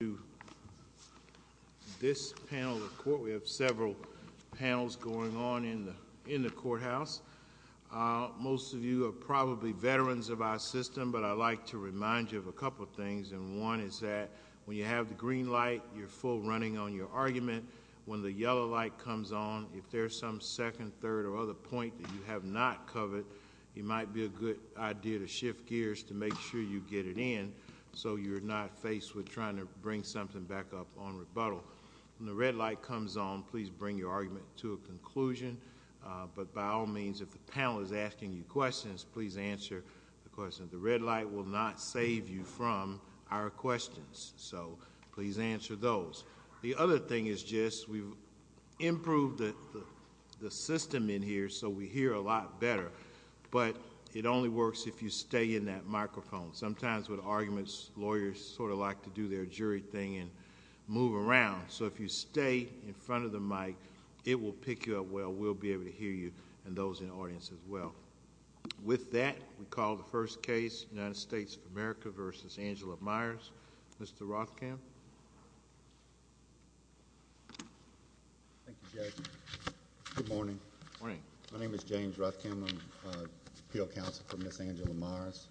We have several panels going on in the courthouse. Most of you are probably veterans of our system, but I'd like to remind you of a couple things. One is that when you have the green light, you're full running on your argument. When the yellow light comes on, if there's some second, third, or other point that you have not covered, it might be a good idea to shift gears to make sure you get it in so you're not faced with trying to bring something back up on rebuttal. When the red light comes on, please bring your argument to a conclusion, but by all means if the panel is asking you questions, please answer the question. The red light will not save you from our questions, so please answer those. The other thing is just we've improved the system in here so we hear a lot better, but it only works if you stay in that microphone. Sometimes with arguments, lawyers sort of like to do their jury thing and move around, so if you stay in front of the mic, it will pick you up well. We'll be able to hear you and those in the audience as well. With that, we call the first case, United States of America v. Angela Myers. Mr. Rothkamp? Thank you, Judge. Good morning. Morning. My name is James Rothkamp. I'm an appeal counsel for Ms. Angela Myers.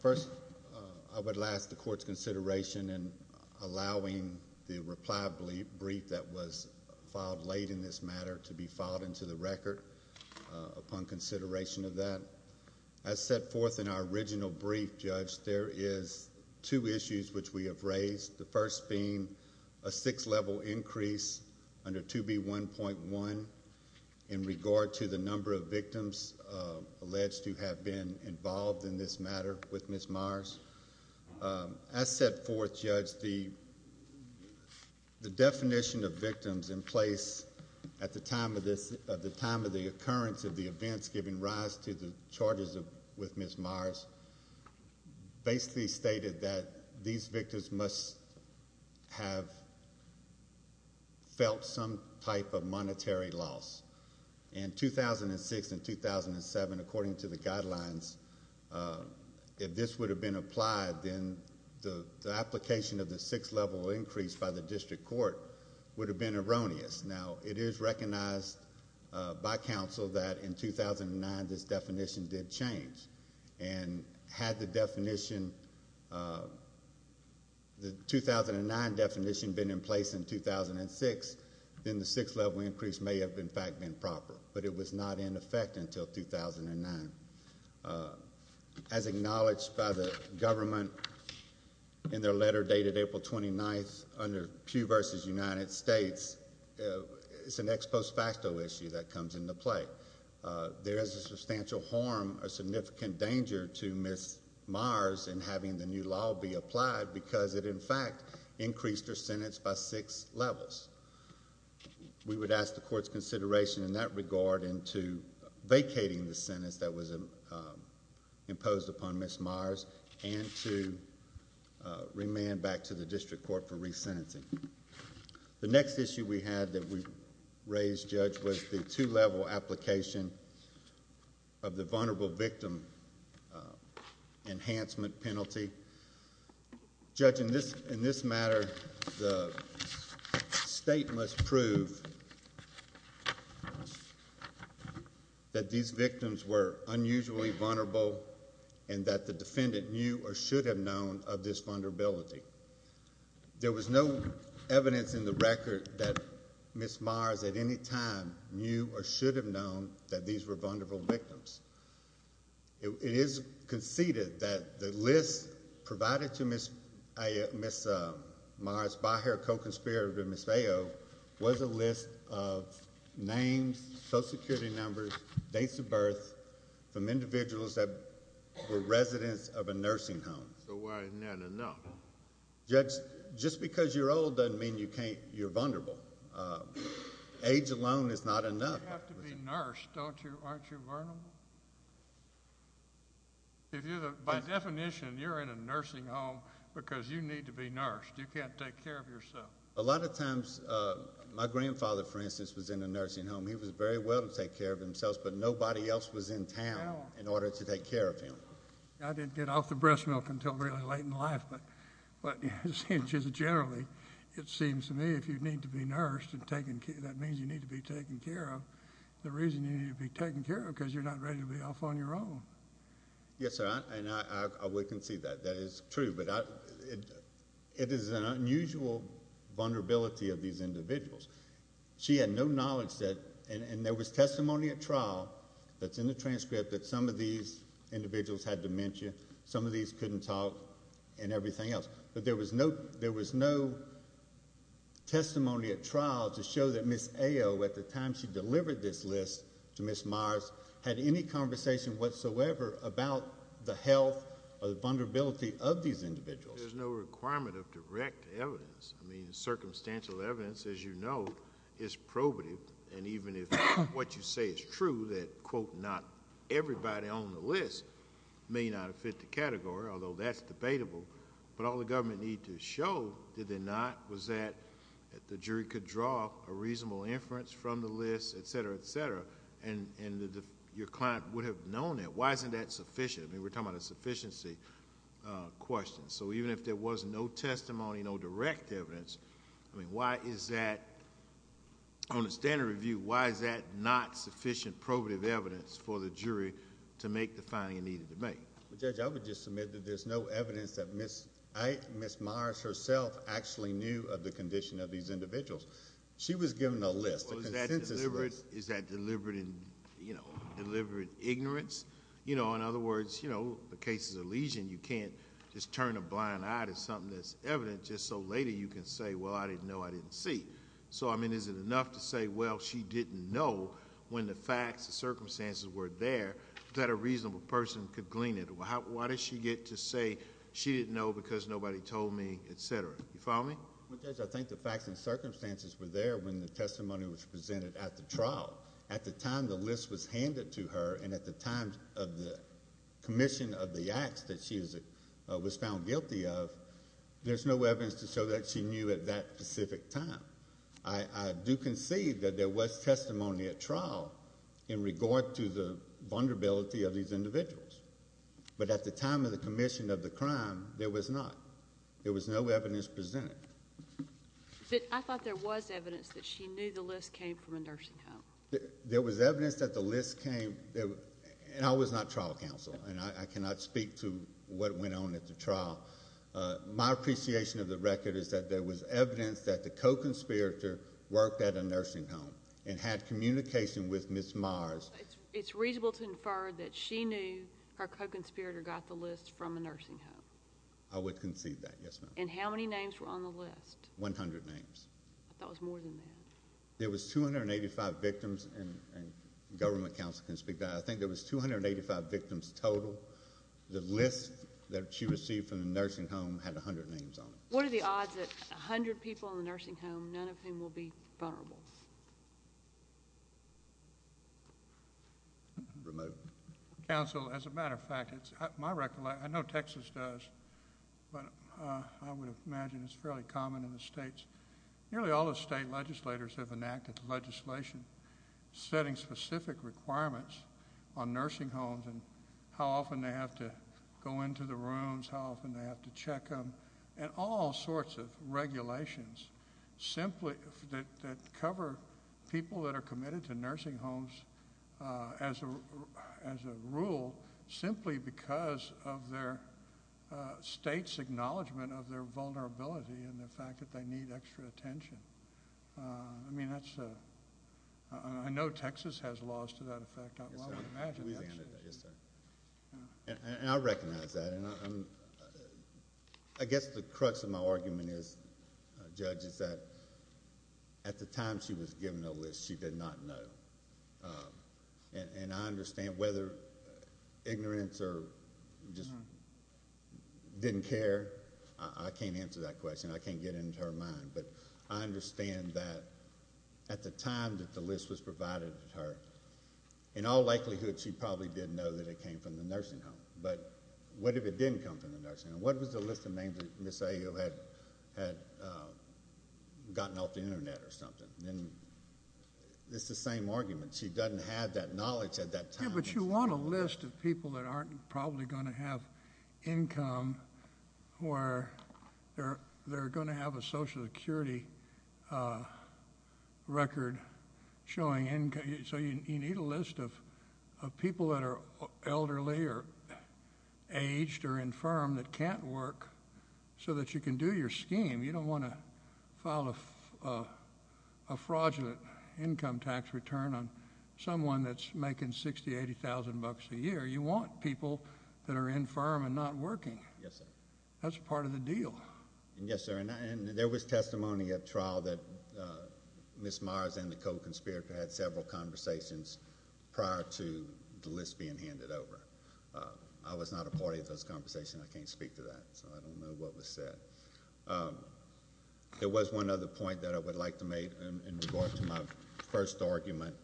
First, I would ask the court's consideration in allowing the reply brief that was filed late in this matter to be filed into the record upon consideration of that. As set forth in our original brief, Judge, there is two issues which we have raised, the first being a six-level increase under 2B1.1 in regard to the number of defendants or victims alleged to have been involved in this matter with Ms. Myers. As set forth, Judge, the definition of victims in place at the time of the occurrence of the events giving rise to the charges with Ms. Myers basically stated that these victims must have felt some type of monetary loss. In 2006 and 2007, according to the guidelines, if this would have been applied, then the application of the six-level increase by the district court would have been erroneous. Now, it is recognized by counsel that in 2009, this definition did change. And had the definition, the 2009 definition, been in place in 2006, then the six-level increase may have, in fact, been proper. But it was not in effect until 2009. As acknowledged by the government in their letter dated April 29th under Pew v. United States, it's an ex post facto issue that comes into play. There is a substantial harm or significant danger to Ms. Myers in having the new law be applied because it, in fact, increased her sentence by six levels. We would ask the court's consideration in that regard into vacating the sentence that was imposed upon Ms. Myers and to remand back to the district court for resentencing. The next issue we had that we raised, Judge, was the two-level application of the vulnerable victim enhancement penalty. Judge, in this matter, the state must prove that these victims were unusually vulnerable and that the defendant knew or should have known of this vulnerability. There was no evidence in the record that Ms. Myers at any time knew or should have known that these were vulnerable victims. It is conceded that the list provided to Ms. Myers by her co-conspirator, Ms. Feo, was a list of names, Social Security numbers, dates of birth from individuals that were residents of a nursing home. So why isn't that enough? Judge, just because you're old doesn't mean you're vulnerable. Age alone is not enough. You have to be nursed, don't you? Aren't you vulnerable? By definition, you're in a nursing home because you need to be nursed. You can't take care of yourself. A lot of times, my grandfather, for instance, was in a nursing home. He was very well to take care of himself, but nobody else was in town in order to take care of him. I didn't get off the breast milk until really late in life, but just generally, it seems to me, if you need to be nursed, that means you need to be taken care of. The reason you need to be taken care of is because you're not ready to be off on your own. Yes, sir, and I would concede that. That is true, but it is an unusual vulnerability of these individuals. She had no knowledge that, and there was testimony at trial that's in the transcript that some of these individuals had dementia. Some of these couldn't talk and everything else. There was no testimony at trial to show that Ms. Ayo, at the time she delivered this list to Ms. Myers, had any conversation whatsoever about the health or the vulnerability of these individuals. There's no requirement of direct evidence. Circumstantial evidence, as you know, is probative, and even if what you say is true, that, quote, not everybody on the list may not have fit the category, although that's debatable, but all the government needed to show, did they not, was that the jury could draw a reasonable inference from the list, et cetera, et cetera, and your client would have known that. Why isn't that sufficient? We're talking about a sufficiency question. Even if there was no testimony, no direct evidence, why is that, on a standard review, why is that not sufficient probative evidence for the jury to make the finding it needed to make? Judge, I would just submit that there's no evidence that Ms. Myers herself actually knew of the condition of these individuals. She was given a list. A consensus list. Well, is that deliberate? Is that deliberate in, you know, deliberate ignorance? You know, in other words, you know, the case is a lesion. You can't just turn a blind eye to something that's evident just so later you can say, well, I didn't know. I didn't see. So, I mean, is it enough to say, well, she didn't know when the facts, the circumstances were there that a reasonable person could glean it? Why does she get to say she didn't know because nobody told me, et cetera? You follow me? Well, Judge, I think the facts and circumstances were there when the testimony was presented at the trial. At the time the list was handed to her and at the time of the commission of the acts that she was found guilty of, there's no evidence to show that she knew at that specific time. I do concede that there was testimony at trial in regard to the vulnerability of these individuals. But at the time of the commission of the crime, there was not. There was no evidence presented. But I thought there was evidence that she knew the list came from a nursing home. There was evidence that the list came, and I was not trial counsel, and I cannot speak to what went on at the trial. My appreciation of the record is that there was evidence that the co-conspirator worked at a nursing home and had communication with Ms. Mars. It's reasonable to infer that she knew her co-conspirator got the list from a nursing home. I would concede that, yes, ma'am. And how many names were on the list? One hundred names. I thought it was more than that. There was 285 victims, and government counsel can speak to that. I think there was 285 victims total. The list that she received from the nursing home had a hundred names on it. What are the odds that a hundred people in the nursing home, none of whom will be vulnerable? Remote. Counsel, as a matter of fact, it's my recollection, I know Texas does, but I would imagine it's fairly common in the states. Nearly all the state legislators have enacted legislation setting specific requirements on nursing homes and how often they have to go into the rooms, how often they have to check them, and all sorts of regulations that cover people that are committed to nursing homes as a rule simply because of their state's acknowledgment of their vulnerability and the fact that they need extra attention. I mean, that's... I know Texas has laws to that effect, I would imagine... Yes, sir. And I recognize that. I guess the crux of my argument is, Judge, is that at the time she was given the list, she did not know. And I understand whether ignorance or just didn't care, I can't answer that question. I can't get into her mind. But I understand that at the time that the list was provided to her, in all likelihood she probably did know that it came from the nursing home. But what if it didn't come from the nursing home? What if the list of names that Ms. Ayo had gotten off the Internet or something? It's the same argument. She doesn't have that knowledge at that time. Yes, but you want a list of people that aren't probably going to have income or they're going to have a Social Security record showing... So you need a list of people that are elderly or aged or infirm that can't work so that you can do your scheme. You don't want to file a fraudulent income tax return on someone that's making $60,000 to $80,000 a year. You want people that are infirm and not working. Yes, sir. That's part of the deal. Yes, sir. And there was testimony at trial that Ms. Myers and the co-conspirator had several conversations prior to the list being handed over. I was not a part of those conversations. I can't speak to that, so I don't know what was said. There was one other point that I would like to make in regard to my first argument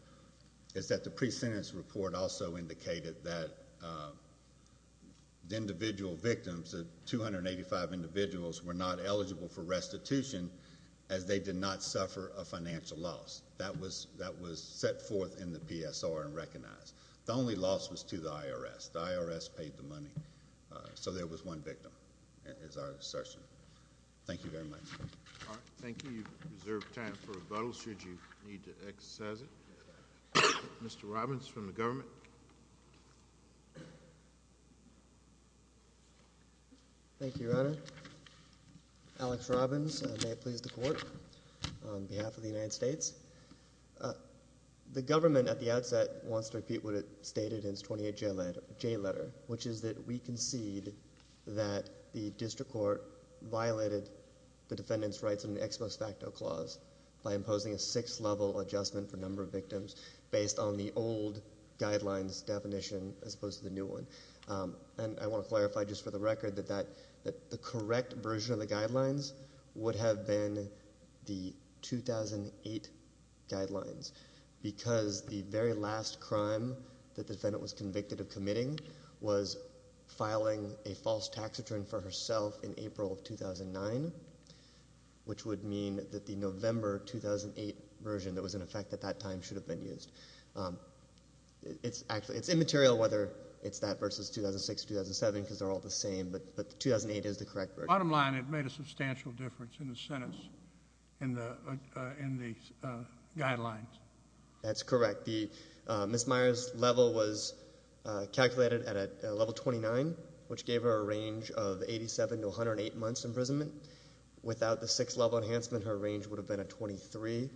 is that the pre-sentence report also indicated that the individual victims, the 285 individuals were not eligible for restitution as they did not suffer a financial loss. That was set forth in the PSR and recognized. The only loss was to the IRS. The IRS paid the money. So there was one victim is our assertion. Thank you very much. All right. Thank you. You've reserved time for rebuttal should you need to exercise it. Mr. Robbins. Mr. Robbins. Mr. Robbins. Mr. Robbins. Mr. Robbins. Mr. Robbins. Ms. Robbins. Alex Robbins. May it please the Court. On behalf of the United States. The Government at the outset wants to repeat what it stated in its 28J letter, which is that we concede that the District Court violated the Defendant's Rights under the Expos Facto Clause by imposing a six level adjustment for number of victims based on the old guidelines definition as opposed to the new one. And I want to clarify just for the record that the correct version of the guidelines would have been the 2008 guidelines because the very last crime the Defendant was convicted of committing was filing a false tax return for herself in April of 2009, which would mean that the November 2008 version that was in effect at that time should have been used. It's actually, it's immaterial whether it's that versus 2006 or 2007 because they're all the same, but the 2008 is the correct version. Bottom line, it made a substantial difference in the sentence, in the guidelines. That's correct. Ms. Meyer's level was calculated at a level 29, which gave her a range of 87 to 108 months imprisonment. Without the six level enhancement, her range would have been a 23,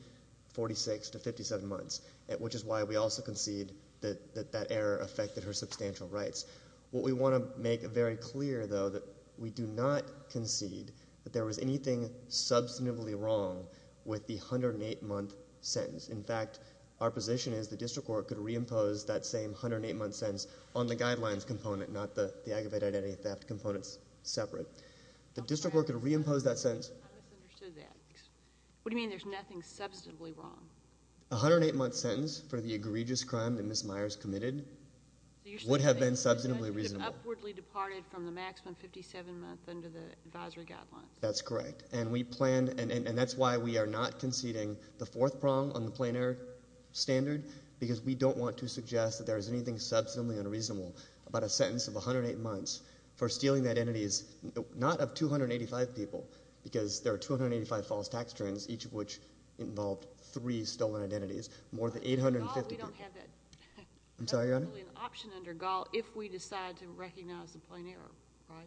46 to 57 months, at which is why we also concede that that error affected her substantial rights. What we want to make very clear, though, that we do not concede that there was anything substantively wrong with the 108 month sentence. In fact, our position is the District Court could reimpose that same 108 month sentence on the guidelines component, not the aggravated identity theft components separate. The District Court could reimpose that sentence. I misunderstood that. What do you mean there's nothing substantively wrong? A 108 month sentence for the egregious crime that Ms. Meyer's committed would have been substantively reasonable. So you're saying she would have upwardly departed from the maximum 57 month under the advisory guidelines? That's correct. And we planned, and that's why we are not conceding the fourth prong on the plain error standard because we don't want to suggest that there is anything substantively unreasonable about a sentence of 108 months for stealing the identities, not of 285 people, because there are 285 false tax returns, each of which involved three stolen identities, more than 850 people. Under Gall, we don't have that. I'm sorry, Your Honor? We don't have that option under Gall if we decide to recognize the plain error, right?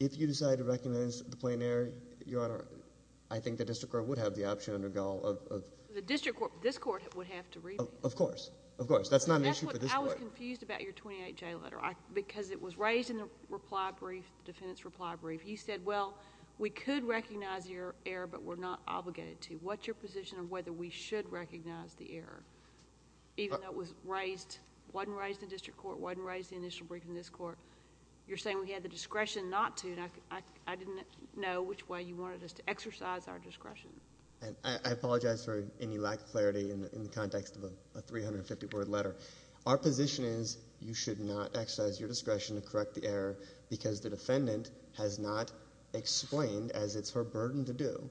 If you decide to recognize the plain error, Your Honor, I think the District Court would have the option under Gall of— The District Court, this Court, would have to revamp. Of course. Of course. That's not an issue for this Court. I was confused about your 28J letter because it was raised in the reply brief, the defendant's reply brief. You said, well, we could recognize your error, but we're not obligated to. What's your position on whether we should recognize the error, even though it was raised—wasn't raised in the District Court, wasn't raised in the initial briefing in this Court? You're saying we had the discretion not to, and I didn't know which way you wanted us to exercise our discretion. I apologize for any lack of clarity in the context of a 350-word letter. Our position is you should not exercise your discretion to correct the error because the Court has not explained, as it's her burden to do,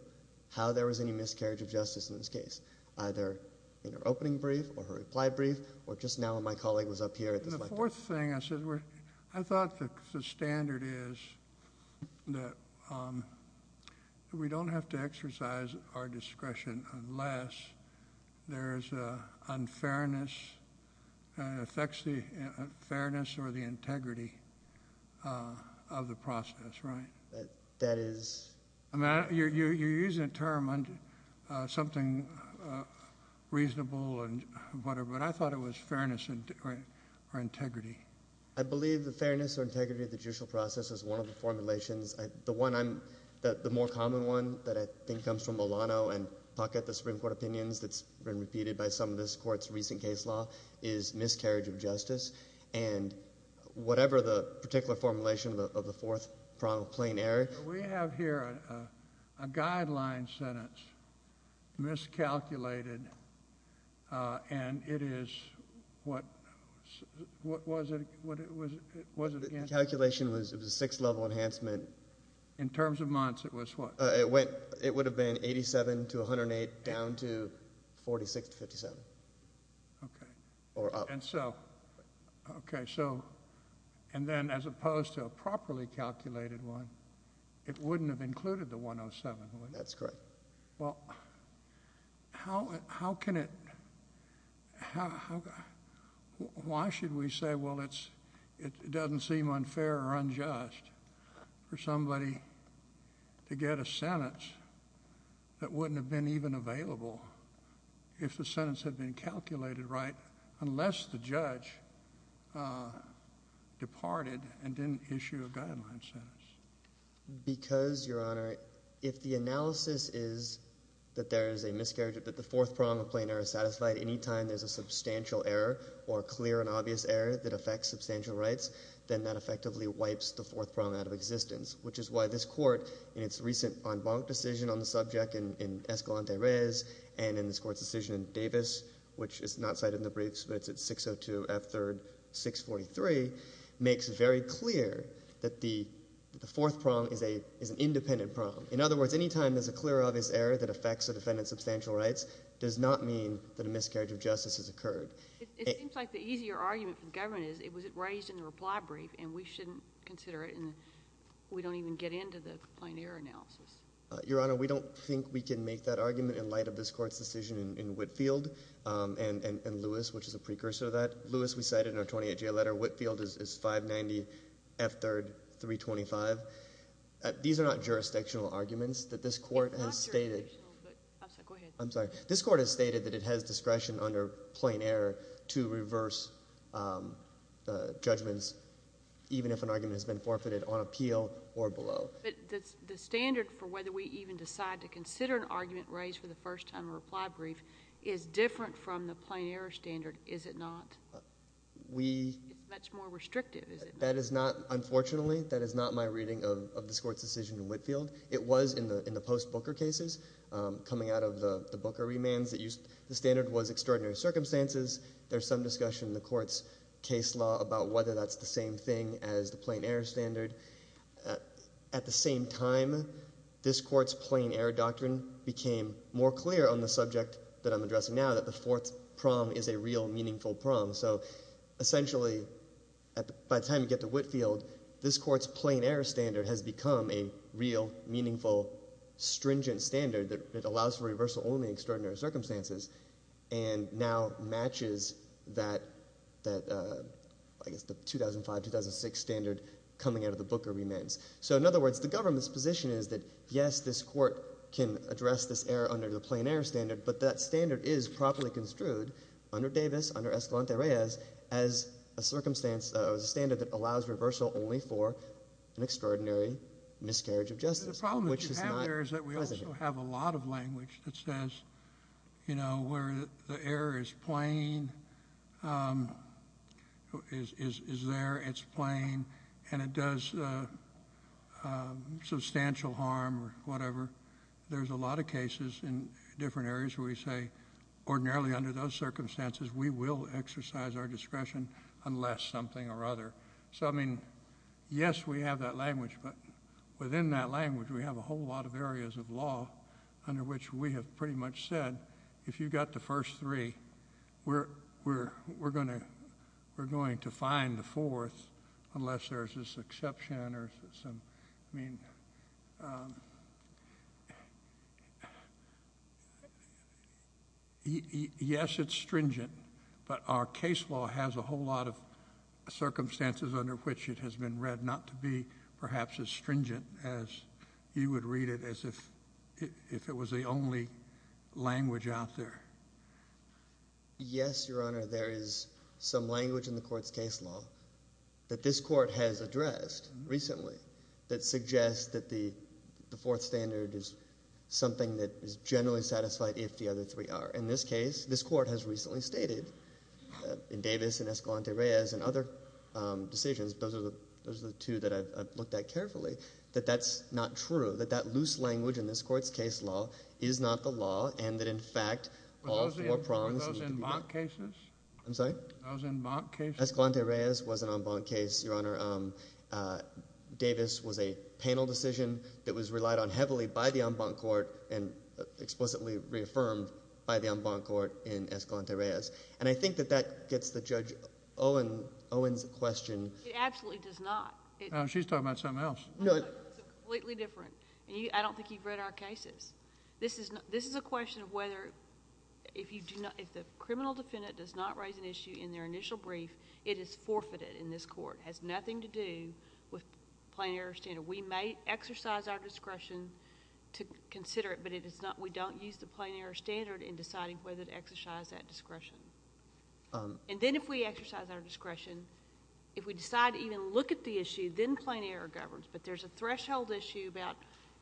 how there was any miscarriage of justice in this case, either in her opening brief or her reply brief or just now when my colleague was up here at this lecture. And the fourth thing, I thought the standard is that we don't have to exercise our discretion unless there's unfairness, affects the fairness or the integrity of the process, right? That is— I mean, you're using a term, something reasonable and whatever, but I thought it was fairness or integrity. I believe the fairness or integrity of the judicial process is one of the formulations. The one I'm—the more common one that I think comes from Milano and Puckett, the Supreme Court opinions that's been repeated by some of this Court's recent case law, is miscarriage of justice. And whatever the particular formulation of the fourth prong of plain error— We have here a guideline sentence, miscalculated, and it is what—was it against— The calculation was a sixth level enhancement. In terms of months, it was what? It would have been 87 to 108, down to 46 to 57, or up. And so—okay, so—and then as opposed to a properly calculated one, it wouldn't have included the 107, would it? That's correct. Well, how can it—why should we say, well, it's—it doesn't seem unfair or unjust for somebody to get a sentence that wouldn't have been even available if the sentence had been calculated right, unless the judge departed and didn't issue a guideline sentence? Because, Your Honor, if the analysis is that there is a miscarriage—that the fourth prong of plain error is satisfied any time there's a substantial error or a clear and obvious error that affects substantial rights, then that effectively wipes the fourth prong out of existence, which is why this Court, in its recent en banc decision on the subject in Escalante Reyes and in this Court's decision in Davis, which is not cited in the briefs but it's at 602 F. 3rd 643, makes it very clear that the fourth prong is an independent prong. In other words, any time there's a clear and obvious error that affects a defendant's substantial rights does not mean that a miscarriage of justice has occurred. It seems like the easier argument for the government is, was it raised in the reply brief and we shouldn't consider it and we don't even get into the plain error analysis? Your Honor, we don't think we can make that argument in light of this Court's decision in Whitfield and Lewis, which is a precursor to that. Lewis we cited in our 28-J letter, Whitfield is 590 F. 3rd 325. These are not jurisdictional arguments that this Court has stated— They're not jurisdictional, but—I'm sorry, go ahead. I'm sorry. This Court has stated that it has discretion under plain error to reverse judgments even if an argument has been forfeited on appeal or below. But the standard for whether we even decide to consider an argument raised for the first time in a reply brief is different from the plain error standard, is it not? We— It's much more restrictive, is it not? That is not—unfortunately, that is not my reading of this Court's decision in Whitfield. It was in the post-Booker cases, coming out of the Booker remands, the standard was extraordinary circumstances. There's some discussion in the Court's case law about whether that's the same thing as the plain error standard. At the same time, this Court's plain error doctrine became more clear on the subject that I'm addressing now, that the fourth prom is a real, meaningful prom. So essentially, by the time you get to Whitfield, this Court's plain error standard has become a real, meaningful, stringent standard that allows for reversal only in extraordinary circumstances and now matches that, I guess, the 2005-2006 standard coming out of the Booker remands. So in other words, the government's position is that, yes, this Court can address this error under the plain error standard, but that standard is properly construed under Davis, under Escalante-Reyes, as a circumstance—as a standard that allows reversal only for an extraordinary miscarriage of justice, which is not present here. The point is that we also have a lot of language that says, you know, where the error is plain, is there, it's plain, and it does substantial harm or whatever, there's a lot of cases in different areas where we say, ordinarily under those circumstances, we will exercise our discretion unless something or other. So I mean, yes, we have that language, but within that language, we have a whole lot of areas of law under which we have pretty much said, if you got the first three, we're going to find the fourth unless there's this exception or some—I mean, yes, it's stringent, but our case law has a whole lot of circumstances under which it has been read not to be perhaps as stringent as you would read it as if it was the only language out there. Yes, Your Honor, there is some language in the Court's case law that this Court has addressed recently that suggests that the fourth standard is something that is generally satisfied if the other three are. In this case, this Court has recently stated, in Davis and Escalante-Reyes and other decisions, those are the two that I've looked at carefully, that that's not true, that that loose language in this Court's case law is not the law and that, in fact, all four prongs need to be— Were those embanked cases? I'm sorry? Those embanked cases? Escalante-Reyes was an embanked case, Your Honor. Davis was a panel decision that was relied on heavily by the embanked court and explicitly reaffirmed by the embanked court in Escalante-Reyes. I think that that gets the Judge Owen's question... It absolutely does not. She's talking about something else. No, it's completely different. I don't think you've read our cases. This is a question of whether, if the criminal defendant does not raise an issue in their initial brief, it is forfeited in this Court, has nothing to do with plain error standard. We may exercise our discretion to consider it, but we don't use the plain error standard in deciding whether to exercise that discretion. Then if we exercise our discretion, if we decide to even look at the issue, then plain error governs. But there's a threshold issue about,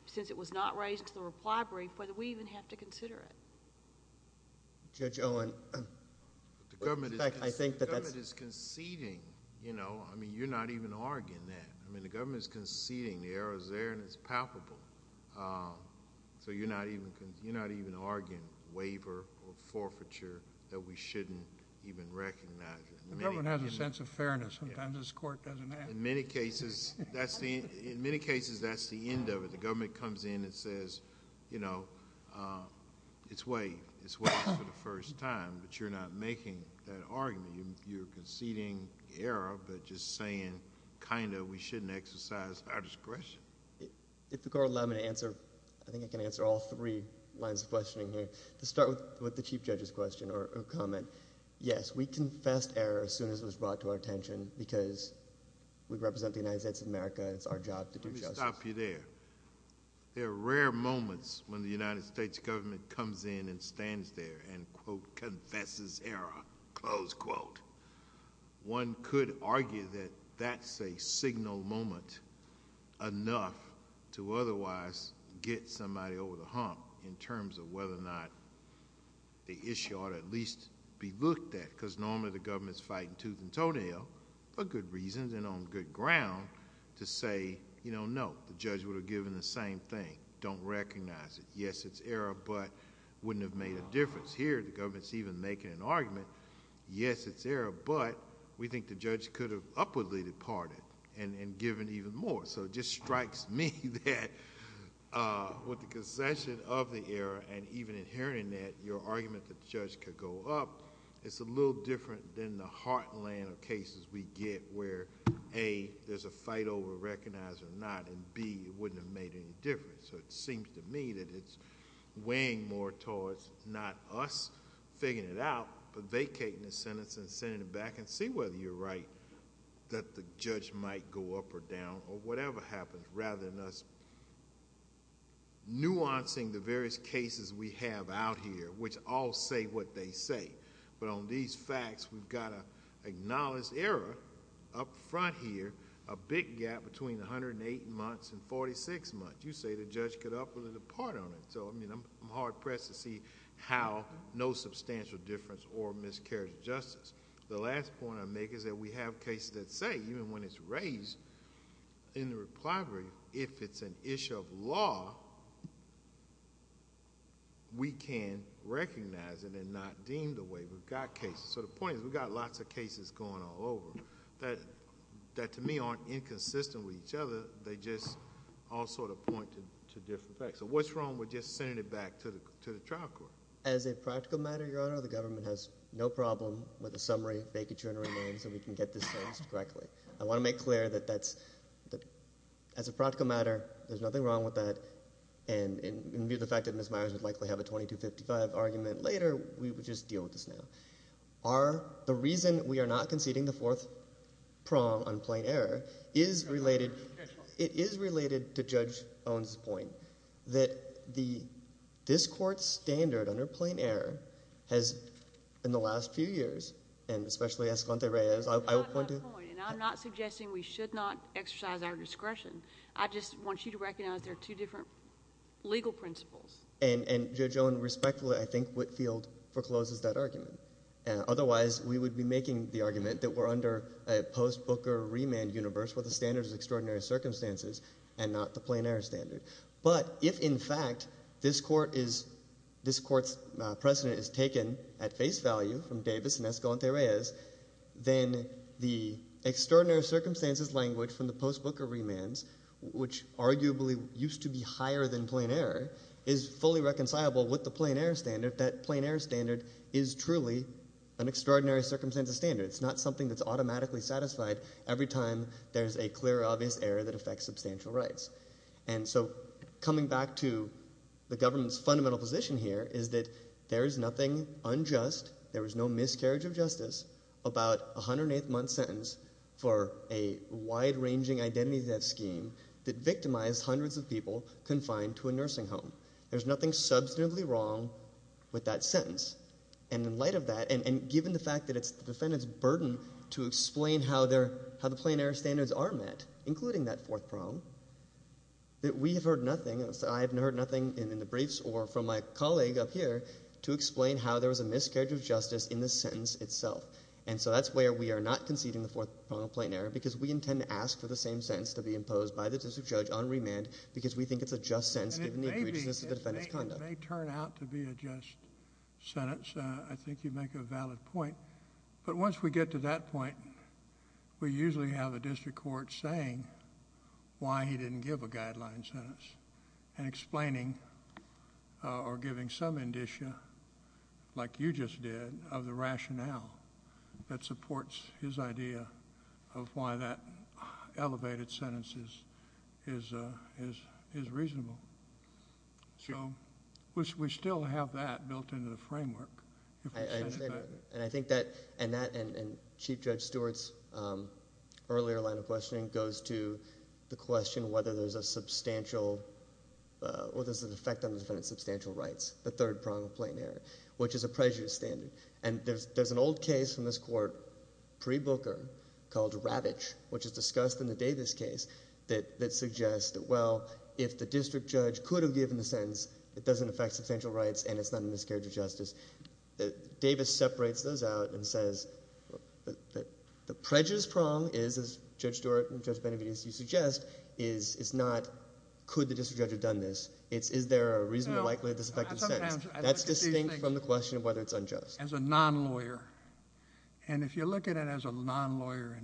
since it was not raised to the reply brief, whether we even have to consider it. Judge Owen. The government is conceding. I think that that's... The government is conceding. I mean, you're not even arguing that. I mean, the government is conceding. The error is there and it's palpable, so you're not even arguing waiver or forfeiture that we shouldn't even recognize. The government has a sense of fairness. Sometimes this Court doesn't ask... In many cases, that's the end of it. The government comes in and says, you know, it's waived. It's waived for the first time, but you're not making that argument. I mean, you're conceding error, but just saying, kind of, we shouldn't exercise our discretion. If the Court will allow me to answer... I think I can answer all three lines of questioning here. To start with the Chief Judge's question or comment, yes, we confessed error as soon as it was brought to our attention because we represent the United States of America and it's our job to do justice. Let me stop you there. There are rare moments when the United States government comes in and stands there and, quote, confesses error, close quote. One could argue that that's a signal moment enough to otherwise get somebody over the hump in terms of whether or not the issue ought to at least be looked at because normally the government is fighting tooth and toenail for good reasons and on good ground to say, you know, no, the judge would have given the same thing, don't recognize it. Yes, it's error, but it wouldn't have made a difference. Here, the government is even making an argument, yes, it's error, but we think the judge could have upwardly departed and given even more. It just strikes me that with the concession of the error and even in hearing that, your argument that the judge could go up, it's a little different than the heartland of cases we get where, A, there's a fight over recognize or not and, B, it wouldn't have made any difference. It seems to me that it's weighing more towards not us figuring it out but vacating the sentence and sending it back and see whether you're right that the judge might go up or down or whatever happens rather than us nuancing the various cases we have out here which all say what they say, but on these facts, we've got to acknowledge error up front here, a big gap between 108 months and 46 months. You say the judge could upwardly depart on it, so I'm hard-pressed to see how no substantial difference or miscarriage of justice. The last point I'll make is that we have cases that say, even when it's raised in the replibrary, if it's an issue of law, we can recognize it and not deem the way we've got cases. The point is we've got lots of cases going all over that, to me, aren't inconsistent with each other, they just all sort of point to different facts. So what's wrong with just sending it back to the trial court? As a practical matter, Your Honor, the government has no problem with a summary vacaturing names so we can get this fenced correctly. I want to make clear that as a practical matter, there's nothing wrong with that, and in view of the fact that Ms. Myers would likely have a 2255 argument later, we would just deal with this now. The reason we are not conceding the fourth prong on plain error is related to Judge Owen's point, that this Court's standard under plain error has, in the last few years, and especially Esconde Reyes, I would point to— That's not my point, and I'm not suggesting we should not exercise our discretion. I just want you to recognize there are two different legal principles. And Judge Owen respectfully, I think, Whitfield forecloses that argument. Otherwise, we would be making the argument that we're under a post-Booker remand universe where the standard is extraordinary circumstances and not the plain error standard. But if, in fact, this Court's precedent is taken at face value from Davis and Esconde Reyes, then the extraordinary circumstances language from the post-Booker remands, which arguably used to be higher than plain error, is fully reconcilable with the plain error standard, that plain error standard is truly an extraordinary circumstances standard. It's not something that's automatically satisfied every time there's a clear, obvious error that affects substantial rights. And so coming back to the government's fundamental position here is that there is nothing unjust, there is no miscarriage of justice, about a 108th month sentence for a wide-ranging identity-theft scheme that victimized hundreds of people confined to a nursing home. There's nothing substantively wrong with that sentence. And in light of that, and given the fact that it's the defendant's burden to explain how the plain error standards are met, including that fourth prong, that we have heard nothing, I have heard nothing in the briefs or from my colleague up here to explain how there was a miscarriage of justice in the sentence itself. And so that's where we are not conceding the fourth prong of plain error because we think it's a fair sentence to be imposed by the district judge on remand because we think it's a just sentence given the egregiousness of the defendant's conduct. It may turn out to be a just sentence. I think you make a valid point. But once we get to that point, we usually have a district court saying why he didn't give a guideline sentence and explaining or giving some indicia, like you just did, of the rationale that supports his idea of why that elevated sentence is reasonable. So we still have that built into the framework. I understand that. And I think that, and Chief Judge Stewart's earlier line of questioning goes to the question whether there's a substantial, or there's an effect on the defendant's substantial rights, the third prong of plain error, which is a prejudice standard. And there's an old case from this court, pre-Booker, called Ravitch, which is discussed in the Davis case that suggests that, well, if the district judge could have given the sentence, it doesn't affect substantial rights and it's not a miscarriage of justice. Davis separates those out and says that the prejudice prong is, as Judge Stewart and Judge Benavides, you suggest, is not could the district judge have done this, it's is there a reasonable, likely, disaffected sentence. That's distinct from the question of whether it's unjust. As a non-lawyer, and if you look at it as a non-lawyer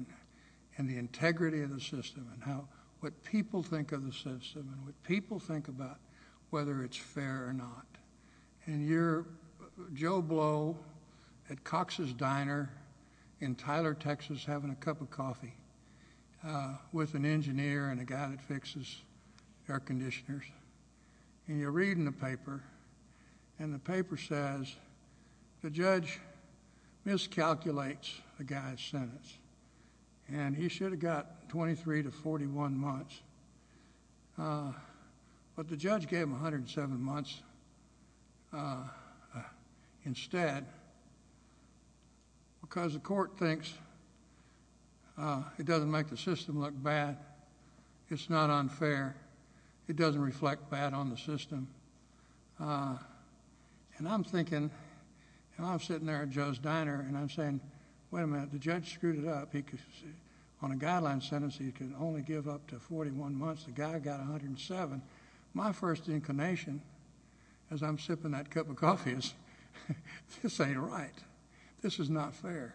and the integrity of the system and how, what people think of the system and what people think about whether it's fair or not. And you're Joe Blow at Cox's Diner in Tyler, Texas, having a cup of coffee with an engineer and a guy that fixes air conditioners. And you're reading the paper and the paper says the judge miscalculates the guy's sentence and he should have got 23 to 41 months. But the judge gave him 107 months instead because the court thinks it doesn't make the system look bad. It's not unfair. It doesn't reflect bad on the system. And I'm thinking, and I'm sitting there at Joe's Diner and I'm saying, wait a minute, the judge screwed it up. He could, on a guideline sentence, he could only give up to 41 months. The guy got 107. My first inclination as I'm sipping that cup of coffee is, this ain't right. This is not fair.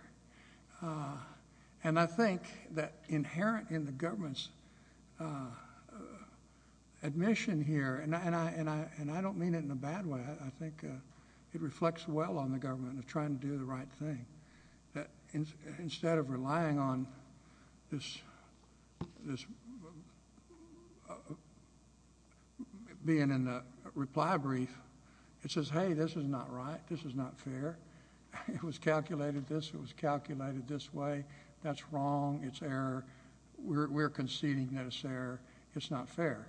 And I think that inherent in the government's admission here, and I don't mean it in a bad way. I think it reflects well on the government of trying to do the right thing. That instead of relying on this being in a reply brief, it says, hey, this is not right. This is not fair. It was calculated this. It was calculated this way. That's wrong. It's error. We're conceding that it's error. It's not fair.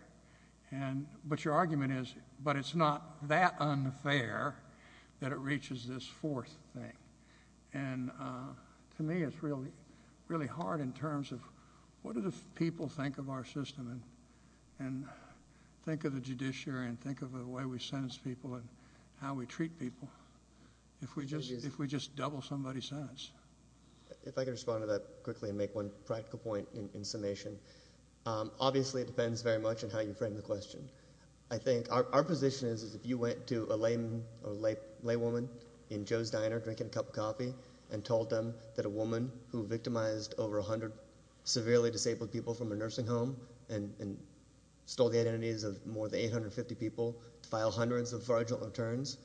And, but your argument is, but it's not that unfair that it reaches this fourth thing. And to me, it's really, really hard in terms of what do the people think of our system and, and think of the judiciary and think of the way we sentence people and how we treat people if we just, if we just double somebody's sentence. If I could respond to that quickly and make one practical point in summation, obviously it depends very much on how you frame the question. I think our position is, is if you went to a layman or lay woman in Joe's diner, drinking a cup of coffee and told them that a woman who victimized over a hundred severely disabled people from a nursing home and stole the identities of more than 850 people to file hundreds of marginal returns,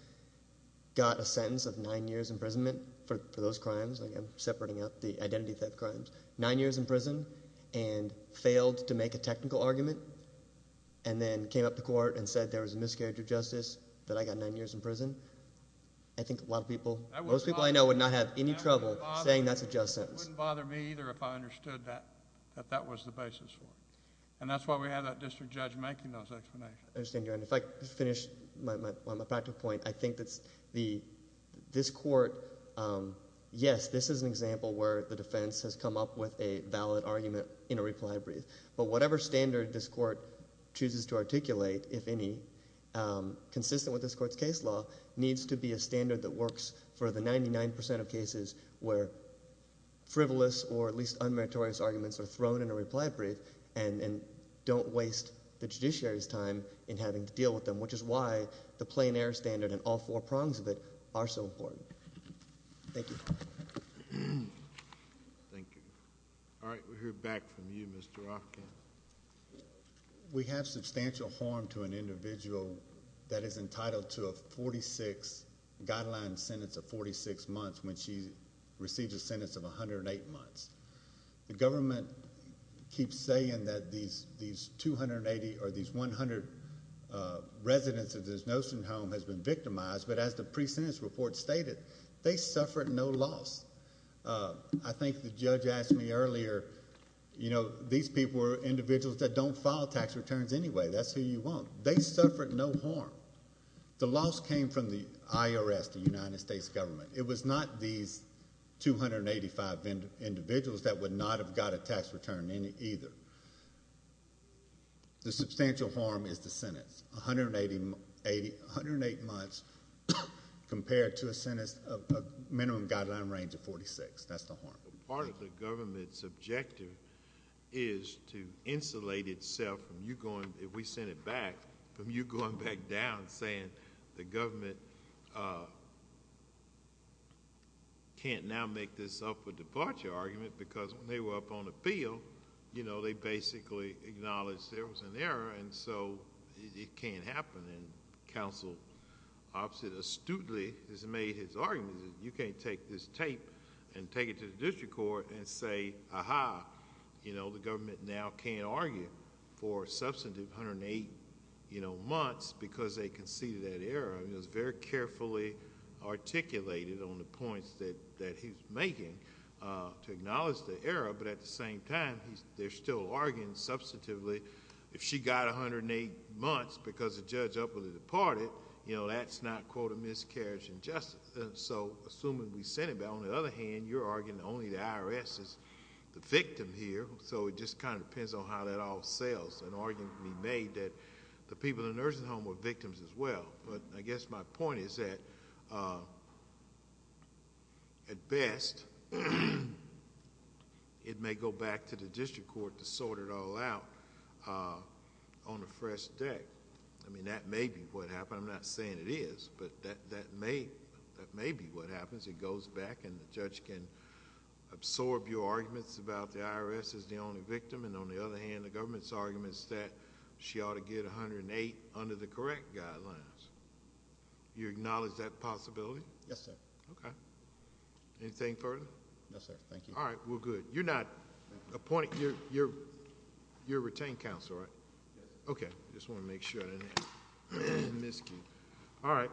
got a sentence of nine years imprisonment for those crimes. Like I'm separating out the identity theft crimes. Nine years in prison and failed to make a technical argument and then came up to court and said there was a miscarriage of justice, that I got nine years in prison. I think a lot of people, most people I know would not have any trouble saying that's a just sentence. It wouldn't bother me either if I understood that, that that was the basis for it. And that's why we have that district judge making those explanations. If I could finish on my practical point, I think that this court, yes, this is an example where the defense has come up with a valid argument in a reply brief. But whatever standard this court chooses to articulate, if any, consistent with this court's case law, needs to be a standard that works for the 99% of cases where frivolous or at least unmeritorious arguments are thrown in a reply brief and don't waste the judiciary's time in having to deal with them, which is why the plain air standard and all four prongs of it are so important. Thank you. Thank you. All right. We hear back from you, Mr. Hopkins. We have substantial harm to an individual that is entitled to a 46 guideline sentence of 46 months when she receives a sentence of 108 months. The government keeps saying that these 280 or these 100 residents of this Nosen home has been victimized. But as the pre-sentence report stated, they suffered no loss. I think the judge asked me earlier, you know, these people are individuals that don't file tax returns anyway. That's who you want. They suffered no harm. The loss came from the IRS, the United States government. It was not these 285 individuals that would not have got a tax return either. The substantial harm is the sentence, 108 months compared to a sentence of a minimum guideline range of 46. That's the harm. Part of the government's objective is to insulate itself from you going, if we sent it back, from you going back down saying the government can't now make this up for departure argument because when they were up on the field, you know, they basically acknowledged there was an error and so it can't happen. And counsel opposite astutely has made his argument that you can't take this tape and take it to the district court and say, aha, you know, the government now can't argue for a substantive 108, you know, months because they conceded that error. I mean, it was very carefully articulated on the points that he's making to acknowledge the error, but at the same time, they're still arguing substantively if she got 108 months because the judge upwardly departed, you know, that's not, quote, a miscarriage in justice. So assuming we sent it back, on the other hand, you're arguing only the IRS is the victim here, so it just kind of depends on how that all sells, an argument can be made that the people in Ersingholm were victims as well, but I guess my point is that at best, it may go back to the district court to sort it all out on a fresh deck. I mean, that may be what happened, I'm not saying it is, but that may be what happens. It goes back and the judge can absorb your arguments about the IRS is the only victim, and on the other hand, the government's argument is that she ought to get 108 under the correct guidelines. You acknowledge that possibility? Yes, sir. Okay. Anything further? No, sir. Thank you. All right. We're good. You're not appointed, you're retained counsel, right? Yes, sir. Okay. Just wanted to make sure. All right.